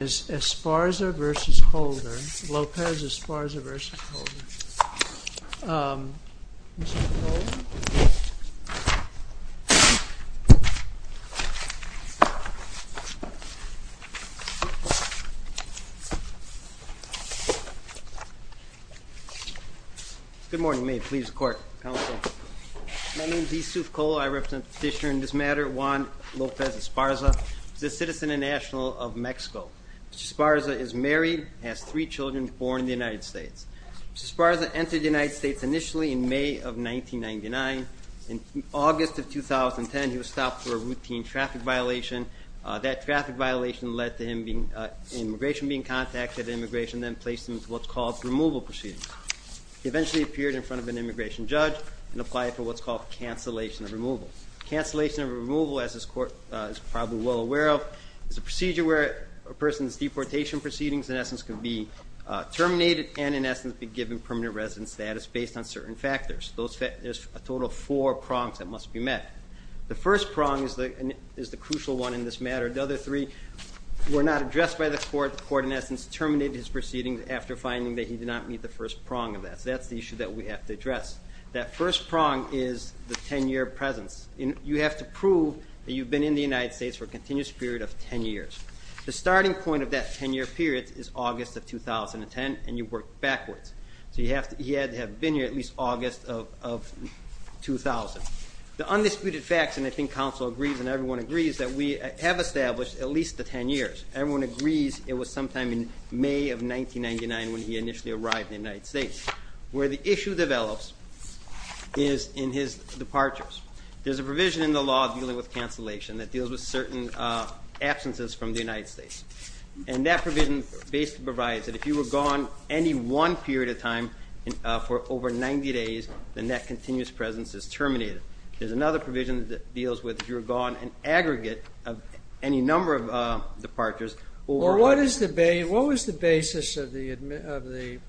Esparza v. Holder, Lopez-Esparza v. Holder. Mr. Holder? Good morning. May it please the Court, Counsel. My name is Yusuf Cole. I represent the petitioner in this matter, Juan Lopez-Esparza. He's a citizen and national of Mexico. Mr. Esparza is married, has three children, born in the United States. Mr. Esparza entered the United States initially in May of 1999. In August of 2010, he was stopped for a routine traffic violation. That traffic violation led to immigration being contacted, and immigration then placed him in what's called removal proceedings. He eventually appeared in front of an immigration judge and applied for what's called cancellation of removal. Cancellation of removal, as this Court is probably well aware of, is a procedure where a person's deportation proceedings, in essence, can be terminated and, in essence, be given permanent resident status based on certain factors. There's a total of four prongs that must be met. The first prong is the crucial one in this matter. The other three were not addressed by the Court. The Court, in essence, terminated his proceedings after finding that he did not meet the first prong of that. So that's the issue that we have to address. That first prong is the 10-year presence. You have to prove that you've been in the United States for a continuous period of 10 years. The starting point of that 10-year period is August of 2010, and you work backwards. So he had to have been here at least August of 2000. The undisputed facts, and I think counsel agrees and everyone agrees, that we have established at least the 10 years. Everyone agrees it was sometime in May of 1999 when he initially arrived in the United States. Where the issue develops is in his departures. There's a provision in the law dealing with cancellation that deals with certain absences from the United States. And that provision basically provides that if you were gone any one period of time for over 90 days, then that continuous presence is terminated. There's another provision that deals with if you were gone an aggregate of any number of departures. What was the basis of the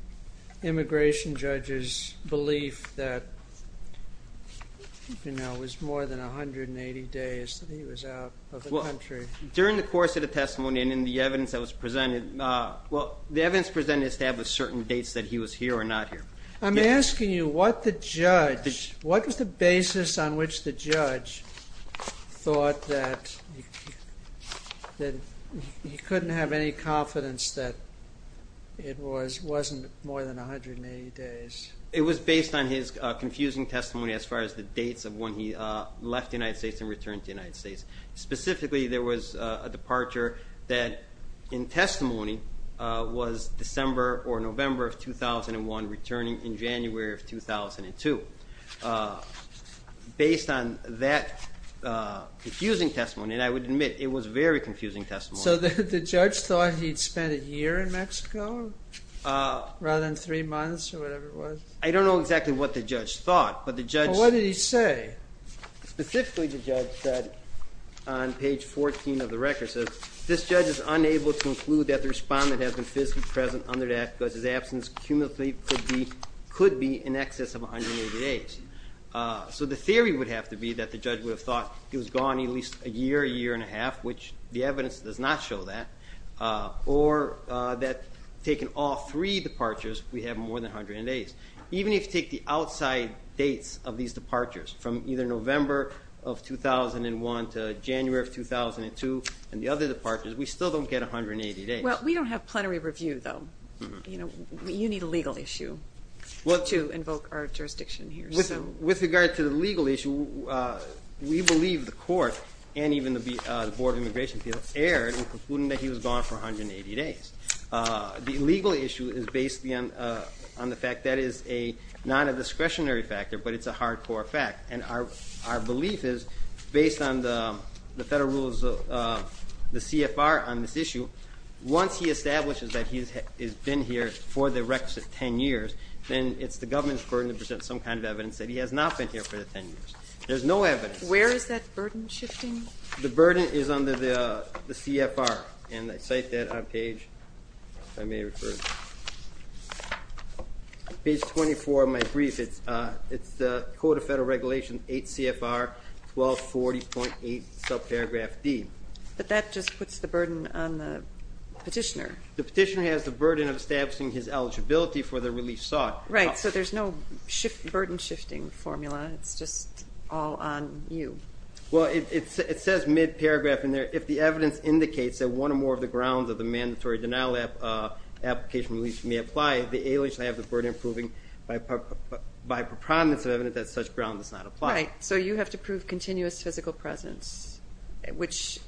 immigration judge's belief that it was more than 180 days that he was out of the country? During the course of the testimony and in the evidence that was presented, the evidence presented established certain dates that he was here or not here. I'm asking you what the judge, what was the basis on which the judge thought that he couldn't have any confidence that it wasn't more than 180 days? It was based on his confusing testimony as far as the dates of when he left the United States and returned to the United States. Specifically, there was a departure that in testimony was December or November of 2001, returning in January of 2002. Based on that confusing testimony, and I would admit it was a very confusing testimony. So the judge thought he'd spent a year in Mexico rather than three months or whatever it was? I don't know exactly what the judge thought. What did he say? Specifically, the judge said on page 14 of the record, this judge is unable to conclude that the respondent has been physically present under that because his absence cumulatively could be in excess of 180 days. So the theory would have to be that the judge would have thought he was gone at least a year, a year and a half, which the evidence does not show that, or that taking all three departures we have more than 180 days. Even if you take the outside dates of these departures from either November of 2001 to January of 2002 and the other departures, we still don't get 180 days. Well, we don't have plenary review, though. You need a legal issue to invoke our jurisdiction here. With regard to the legal issue, we believe the court and even the Board of Immigration people erred in concluding that he was gone for 180 days. The legal issue is based on the fact that is not a discretionary factor, but it's a hardcore fact, and our belief is, based on the federal rules, the CFR on this issue, once he establishes that he has been here for the requisite 10 years, then it's the government's burden to present some kind of evidence that he has not been here for the 10 years. There's no evidence. Where is that burden shifting? The burden is under the CFR, and I cite that on page 24 of my brief. It's the Code of Federal Regulations 8 CFR 1240.8 subparagraph D. But that just puts the burden on the petitioner. The petitioner has the burden of establishing his eligibility for the release sought. Right, so there's no burden shifting formula. It's just all on you. Well, it says mid-paragraph in there, if the evidence indicates that one or more of the grounds of the mandatory denial application release may apply, the alias may have the burden of proving by preponderance of evidence that such ground does not apply. Right, so you have to prove continuous physical presence, which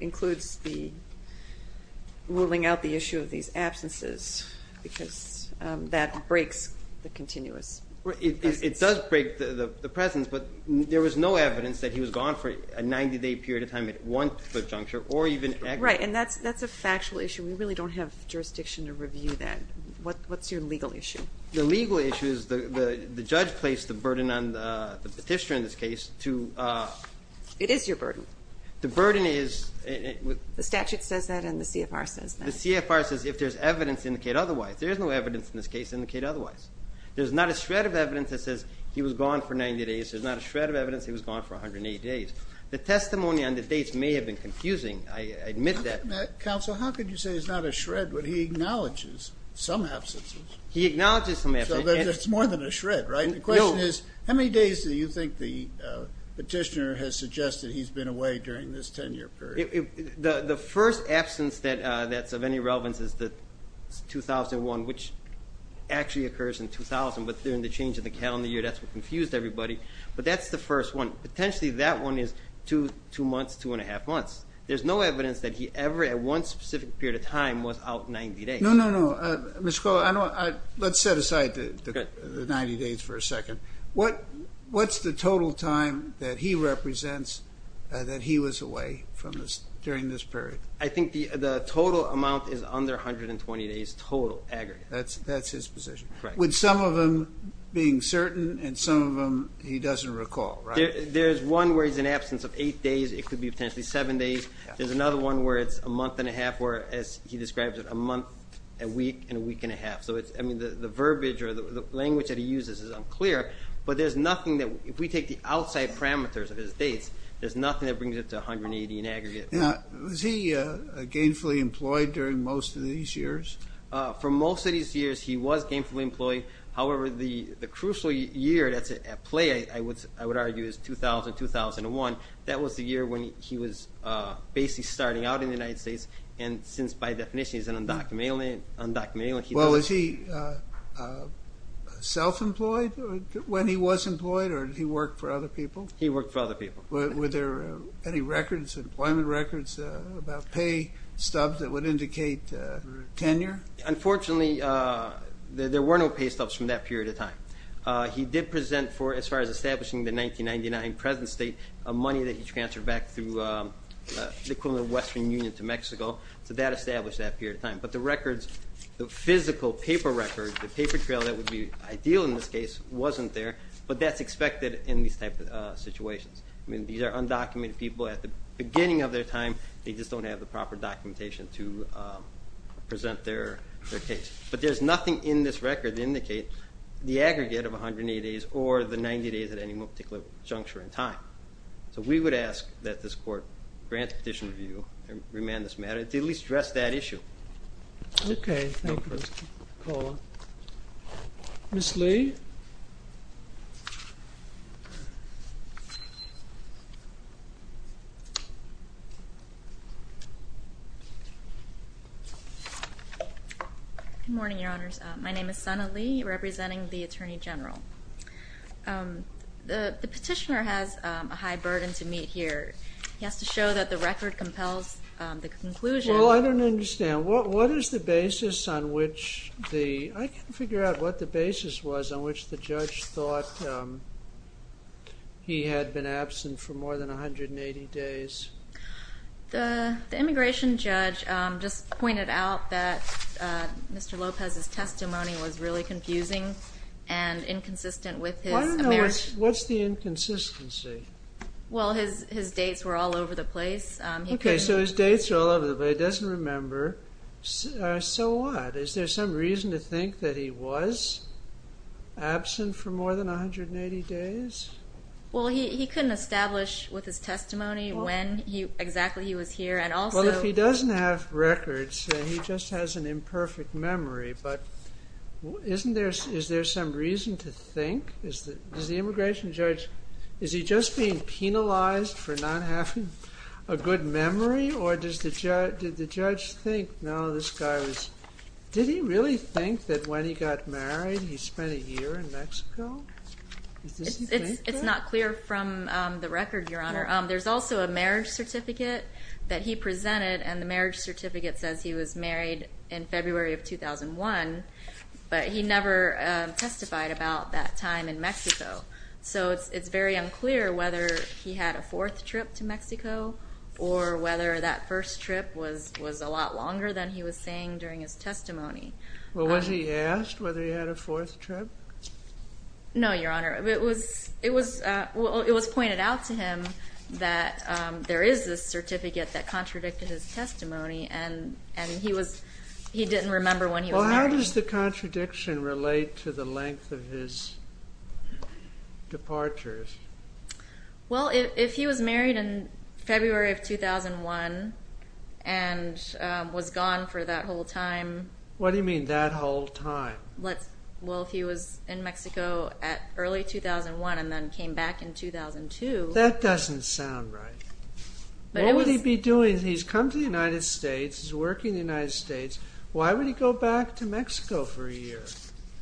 includes ruling out the issue of these absences because that breaks the continuous presence. It does break the presence, but there was no evidence that he was gone for a 90-day period of time at one foot juncture or even aggregate. Right, and that's a factual issue. We really don't have jurisdiction to review that. What's your legal issue? The legal issue is the judge placed the burden on the petitioner in this case. It is your burden. The burden is... The statute says that and the CFR says that. The CFR says if there's evidence, indicate otherwise. There is no evidence in this case to indicate otherwise. There's not a shred of evidence that says he was gone for 90 days. There's not a shred of evidence he was gone for 180 days. The testimony on the dates may have been confusing. I admit that. Counsel, how could you say it's not a shred when he acknowledges some absences? He acknowledges some absences. So it's more than a shred, right? The question is, how many days do you think the petitioner has suggested he's been away during this 10-year period? The first absence that's of any relevance is 2001, which actually occurs in 2000, but during the change in the calendar year, that's what confused everybody. But that's the first one. Potentially that one is two months, two and a half months. There's no evidence that he ever, at one specific period of time, was out 90 days. No, no, no. Let's set aside the 90 days for a second. What's the total time that he represents that he was away during this period? I think the total amount is under 120 days total, aggregate. That's his position. With some of them being certain and some of them he doesn't recall, right? There's one where he's in absence of eight days. It could be potentially seven days. There's another one where it's a month and a half, or as he describes it, a month, a week, and a week and a half. The verbiage or the language that he uses is unclear, but if we take the outside parameters of his dates, there's nothing that brings it to 180 in aggregate. Was he gainfully employed during most of these years? For most of these years, he was gainfully employed. However, the crucial year that's at play, I would argue, is 2000, 2001. That was the year when he was basically starting out in the United States, and since, by definition, he's an undocumented immigrant. Was he self-employed when he was employed, or did he work for other people? He worked for other people. Were there any records, employment records, about pay stubs that would indicate tenure? Unfortunately, there were no pay stubs from that period of time. He did present for, as far as establishing the 1999 present state, a money that he transferred back through the equivalent of Western Union to Mexico. So that established that period of time. But the records, the physical paper records, the paper trail that would be ideal in this case, wasn't there, but that's expected in these type of situations. I mean, these are undocumented people at the beginning of their time. They just don't have the proper documentation to present their case. But there's nothing in this record to indicate the aggregate of 180 days or the 90 days at any one particular juncture in time. So we would ask that this court grant the petition review and remand this matter to at least address that issue. Okay. Thank you, Mr. McCullough. Ms. Lee? Good morning, Your Honors. My name is Sana Lee, representing the Attorney General. The petitioner has a high burden to meet here. He has to show that the record compels the conclusion. Well, I don't understand. What is the basis on which the – I can't figure out what the basis was on which the judge thought he had been absent for more than 180 days. The immigration judge just pointed out that Mr. Lopez's testimony was really confusing and inconsistent with his – What's the inconsistency? Well, his dates were all over the place. Okay, so his dates are all over the place. He doesn't remember. So what? Is there some reason to think that he was absent for more than 180 days? Well, he couldn't establish with his testimony when exactly he was here and also – Well, if he doesn't have records, he just has an imperfect memory. But isn't there – is there some reason to think? Does the immigration judge – is he just being penalized for not having a good memory, or did the judge think, no, this guy was – did he really think that when he got married he spent a year in Mexico? It's not clear from the record, Your Honor. There's also a marriage certificate that he presented, and the marriage certificate says he was married in February of 2001, but he never testified about that time in Mexico. So it's very unclear whether he had a fourth trip to Mexico or whether that first trip was a lot longer than he was saying during his testimony. Well, was he asked whether he had a fourth trip? No, Your Honor. It was pointed out to him that there is this certificate that contradicted his testimony, and he didn't remember when he was married. Well, how does the contradiction relate to the length of his departures? Well, if he was married in February of 2001 and was gone for that whole time – What do you mean, that whole time? Well, if he was in Mexico at early 2001 and then came back in 2002 – That doesn't sound right. What would he be doing? He's come to the United States, he's working in the United States. Why would he go back to Mexico for a year?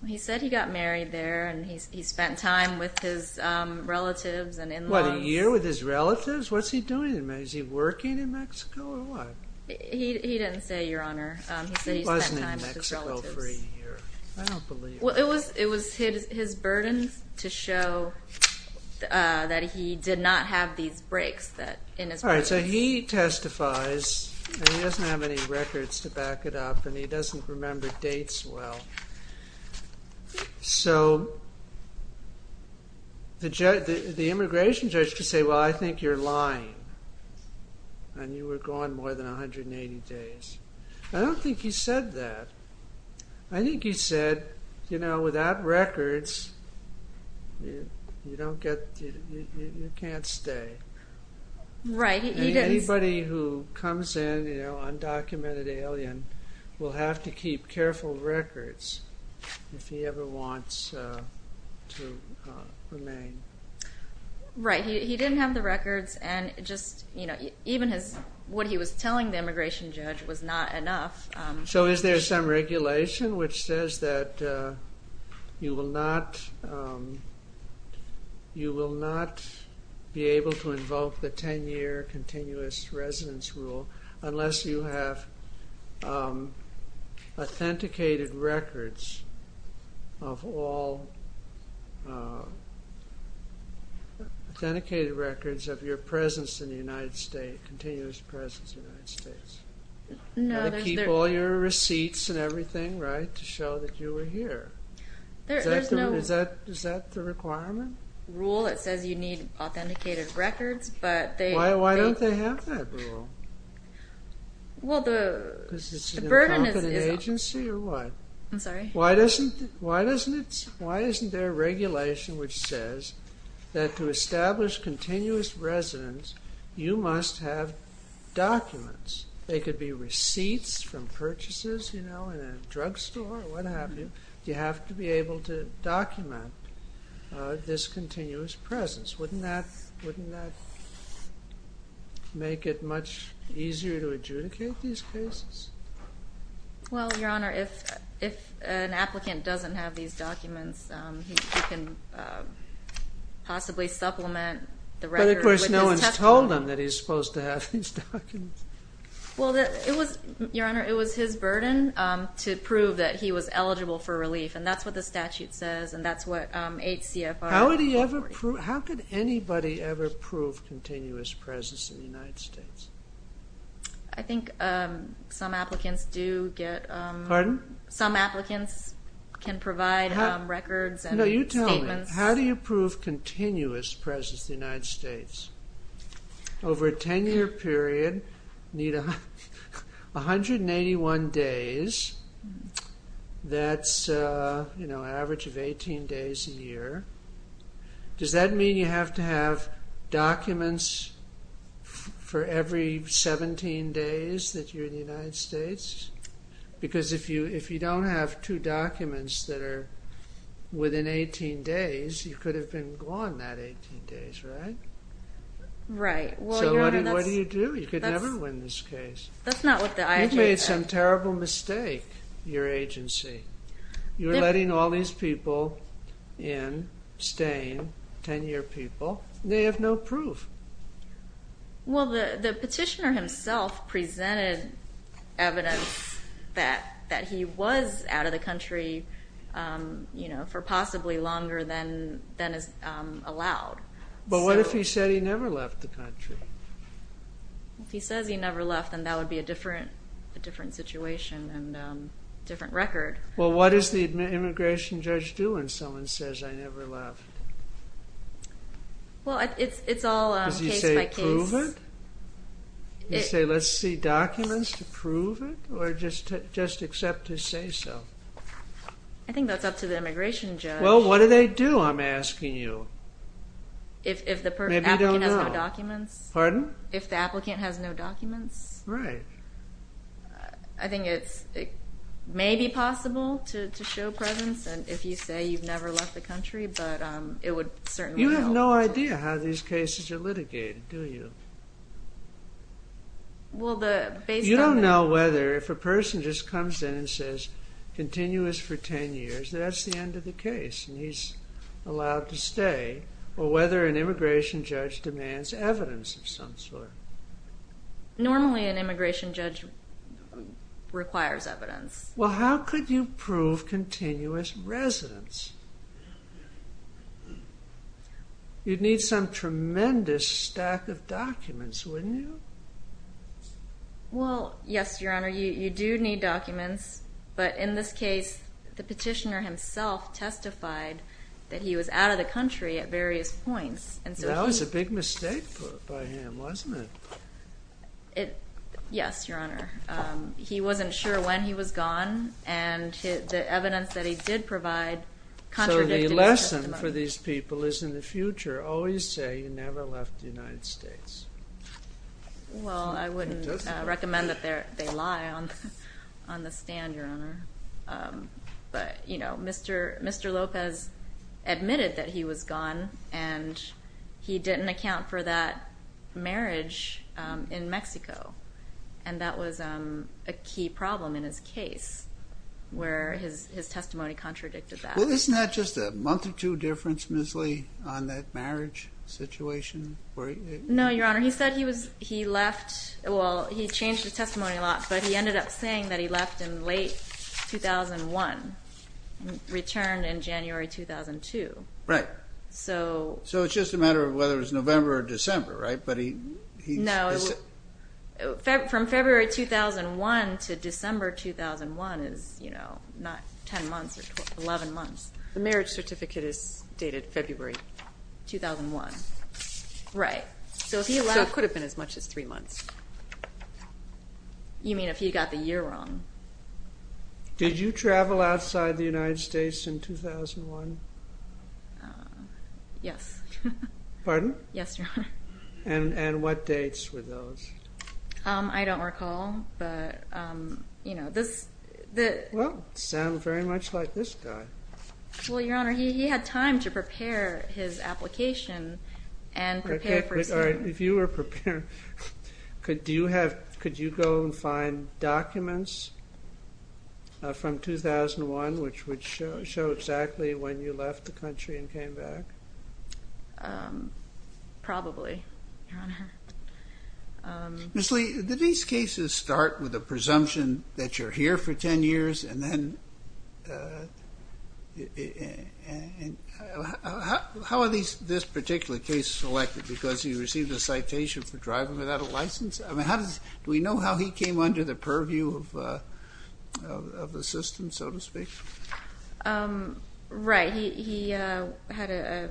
He said he got married there and he spent time with his relatives and in-laws. What, a year with his relatives? What's he doing in Mexico? Is he working in Mexico or what? He didn't say, Your Honor. He said he spent time with his relatives. He wasn't in Mexico for a year. I don't believe it. Well, it was his burden to show that he did not have these breaks. All right, so he testifies, and he doesn't have any records to back it up, and he doesn't remember dates well. So the immigration judge could say, Well, I think you're lying, and you were gone more than 180 days. I don't think he said that. I think he said, You know, without records, you can't stay. Right. Anybody who comes in, you know, undocumented alien, will have to keep careful records if he ever wants to remain. Right. He didn't have the records, and just, you know, even what he was telling the immigration judge was not enough. So is there some regulation which says that you will not be able to invoke the 10-year continuous residence rule unless you have authenticated records of your presence in the United States, continuous presence in the United States? No, there's no. You got to keep all your receipts and everything, right, to show that you were here. There's no. Is that the requirement? Rule that says you need authenticated records, but they... Well, the burden is... Because it's an unconfident agency, or what? I'm sorry? Why isn't there regulation which says that to establish continuous residence, you must have documents? They could be receipts from purchases, you know, in a drugstore, or what have you. You have to be able to document this continuous presence. Wouldn't that make it much easier to adjudicate these cases? Well, Your Honor, if an applicant doesn't have these documents, he can possibly supplement the record with his testimony. But, of course, no one's told him that he's supposed to have these documents. Well, Your Honor, it was his burden to prove that he was eligible for relief, and that's what the statute says, and that's what 8 CFR... How could anybody ever prove continuous presence in the United States? I think some applicants do get... Pardon? Some applicants can provide records and statements. No, you tell me. How do you prove continuous presence in the United States? Over a 10-year period, you need 181 days. That's an average of 18 days a year. Does that mean you have to have documents for every 17 days that you're in the United States? Because if you don't have two documents that are within 18 days, you could have been gone that 18 days, right? Right. So what do you do? You could never win this case. That's not what the IG said. You've made some terrible mistake, your agency. You're letting all these people in, staying, 10-year people, and they have no proof. Well, the petitioner himself presented evidence that he was out of the country for possibly longer than is allowed. But what if he said he never left the country? If he says he never left, then that would be a different situation and a different record. Well, what does the immigration judge do when someone says, I never left? Well, it's all case by case. Does he say, prove it? Does he say, let's see documents to prove it, or just accept his say-so? I think that's up to the immigration judge. Well, what do they do, I'm asking you? If the applicant has no documents? Pardon? If the applicant has no documents? Right. I think it may be possible to show presence if you say you've never left the country, but it would certainly help. You have no idea how these cases are litigated, do you? You don't know whether if a person just comes in and says, continuous for 10 years, that's the end of the case, and he's allowed to stay, or whether an immigration judge demands evidence of some sort. Normally an immigration judge requires evidence. Well, how could you prove continuous residence? You'd need some tremendous stack of documents, wouldn't you? Well, yes, Your Honor, you do need documents, but in this case, the petitioner himself testified that he was out of the country at various points. That was a big mistake by him, wasn't it? Yes, Your Honor. He wasn't sure when he was gone, and the evidence that he did provide contradicted his testimony. So the lesson for these people is in the future, always say you never left the United States. Well, I wouldn't recommend that they lie on the stand, Your Honor. But, you know, Mr. Lopez admitted that he was gone, and he didn't account for that marriage in Mexico, and that was a key problem in his case, where his testimony contradicted that. Well, isn't that just a month or two difference, Ms. Lee, on that marriage situation? No, Your Honor, he said he left. Well, he changed his testimony a lot, but he ended up saying that he left in late 2001, returned in January 2002. Right. So it's just a matter of whether it was November or December, right? No, from February 2001 to December 2001 is, you know, not 10 months or 11 months. The marriage certificate is dated February 2001. Right. So it could have been as much as three months. You mean if he got the year wrong? Did you travel outside the United States in 2001? Yes. Pardon? Yes, Your Honor. And what dates were those? I don't recall, but, you know, this... Well, it sounds very much like this guy. Well, Your Honor, he had time to prepare his application and prepare for... All right, if you were prepared, could you go and find documents from 2001, which would show exactly when you left the country and came back? Probably, Your Honor. Ms. Lee, did these cases start with a presumption that you're here for 10 years and then... How are this particular case selected? Because he received a citation for driving without a license? I mean, how does... Do we know how he came under the purview of the system, so to speak? Right. He had a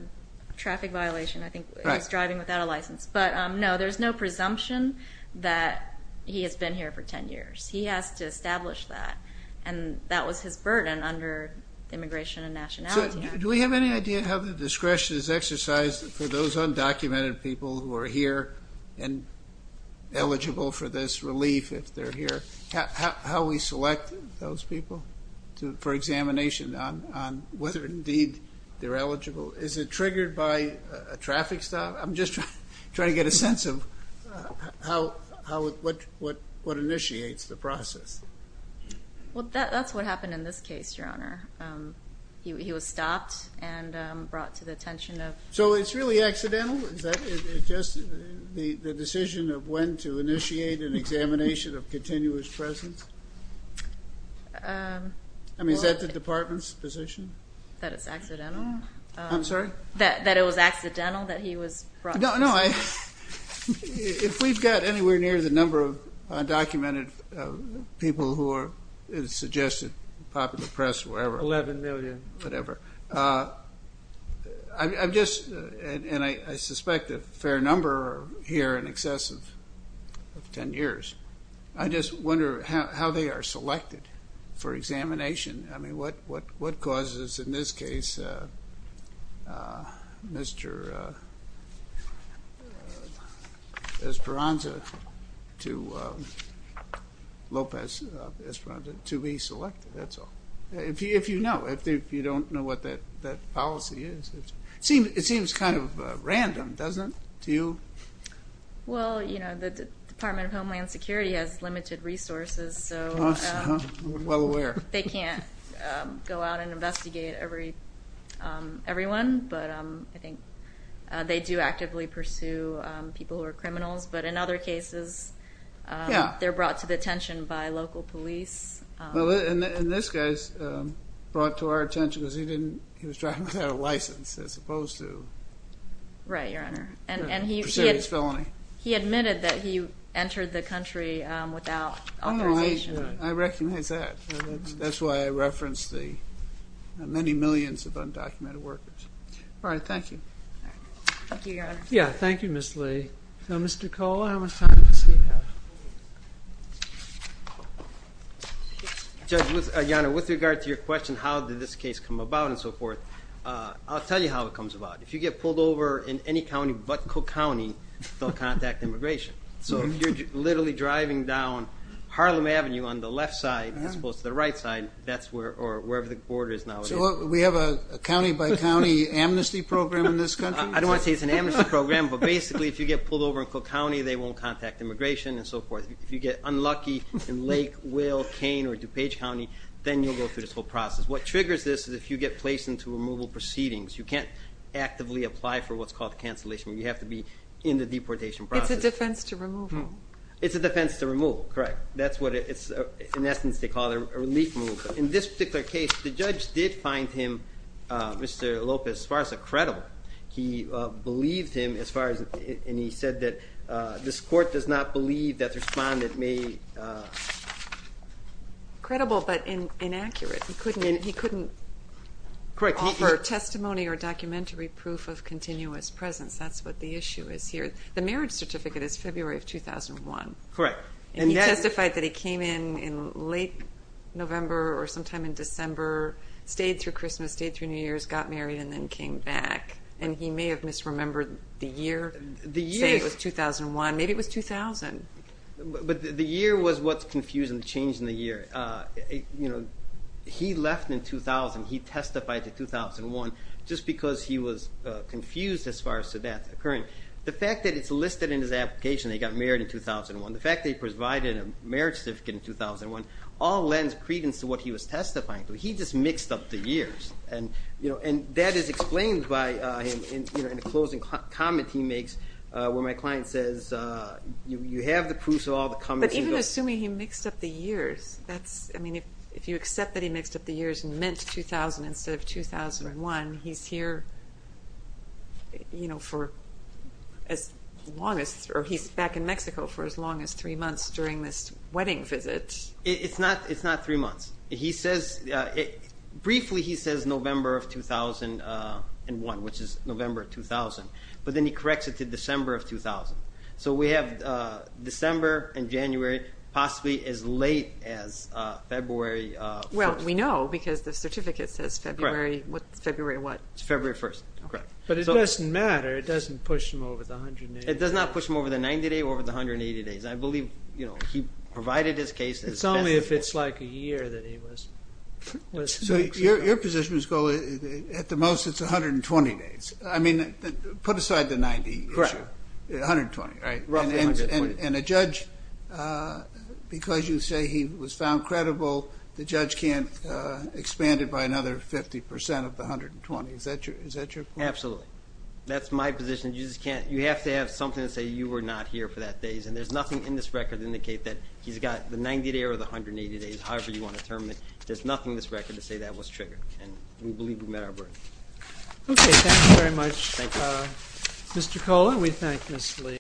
traffic violation. I think he's driving without a license. But, no, there's no presumption that he has been here for 10 years. He has to establish that, and that was his burden under immigration and nationality. Do we have any idea how the discretion is exercised for those undocumented people who are here and eligible for this relief if they're here? How we select those people for examination on whether, indeed, they're eligible? Is it triggered by a traffic stop? I'm just trying to get a sense of what initiates the process. Well, that's what happened in this case, Your Honor. He was stopped and brought to the attention of... So it's really accidental? Is that just the decision of when to initiate an examination of continuous presence? I mean, is that the department's position? That it's accidental? I'm sorry? That it was accidental that he was brought to the attention? No, no. If we've got anywhere near the number of undocumented people who are suggested popular press or whatever... 11 million. Whatever. I'm just... and I suspect a fair number are here in excess of 10 years. I just wonder how they are selected for examination. I mean, what causes, in this case, Mr. Esperanza to be selected, that's all. If you know, if you don't know what that policy is. It seems kind of random, doesn't it, to you? Well, you know, the Department of Homeland Security has limited resources, so... Well aware. They can't go out and investigate everyone, but I think they do actively pursue people who are criminals. But in other cases, they're brought to the attention by local police. And this guy's brought to our attention because he was driving without a license as opposed to... Right, Your Honor. And he admitted that he entered the country without authorization. I recognize that. That's why I referenced the many millions of undocumented workers. All right, thank you. Thank you, Your Honor. Yeah, thank you, Ms. Lee. Now, Mr. Kohler, how much time does he have? Judge, Your Honor, with regard to your question, how did this case come about and so forth, I'll tell you how it comes about. If you get pulled over in any county but Cook County, they'll contact immigration. So if you're literally driving down Harlem Avenue on the left side as opposed to the right side, that's where the border is now. So we have a county-by-county amnesty program in this country? I don't want to say it's an amnesty program, but basically if you get pulled over in Cook County, they won't contact immigration and so forth. If you get unlucky in Lake, Will, Kane, or DuPage County, then you'll go through this whole process. What triggers this is if you get placed into removal proceedings. You can't actively apply for what's called cancellation. You have to be in the deportation process. It's a defense to removal. It's a defense to removal, correct. In essence, they call it a relief move. In this particular case, the judge did find him, Mr. Lopez, as far as credible. He believed him, and he said that this court does not believe that the respondent may... Credible but inaccurate. He couldn't offer testimony or documentary proof of continuous presence. That's what the issue is here. The marriage certificate is February of 2001. Correct. And he testified that he came in in late November or sometime in December, stayed through Christmas, stayed through New Year's, got married, and then came back. And he may have misremembered the year, saying it was 2001. Maybe it was 2000. But the year was what's confusing the change in the year. He left in 2000. He testified in 2001 just because he was confused as far as to that occurring. The fact that it's listed in his application that he got married in 2001, the fact that he provided a marriage certificate in 2001, all lends credence to what he was testifying to. He just mixed up the years. And that is explained by him in a closing comment he makes when my client says, you have the proofs of all the comments you've got. But even assuming he mixed up the years, I mean, if you accept that he mixed up the years and meant 2000 instead of 2001, he's here, you know, for as long as, or he's back in Mexico for as long as 3 months during this wedding visit. It's not 3 months. He says, briefly he says November of 2001, which is November 2000. But then he corrects it to December of 2000. So we have December and January, possibly as late as February 1st. Well, we know because the certificate says February. February what? It's February 1st. But it doesn't matter. It doesn't push him over the 180 days. It does not push him over the 90 days or the 180 days. I believe, you know, he provided his case. It's only if it's like a year that he was. So your position is at the most it's 120 days. I mean, put aside the 90. Correct. 120, right? Roughly 120. And a judge, because you say he was found credible, the judge can't expand it by another 50% of the 120. Is that your point? Absolutely. That's my position. You just can't. You have to have something to say you were not here for that days. And there's nothing in this record to indicate that he's got the 90 days or the 180 days, however you want to term it. There's nothing in this record to say that was triggered. And we believe we met our burden. Okay. Thank you very much. Thank you. Mr. Kohler, we thank Ms. Lee.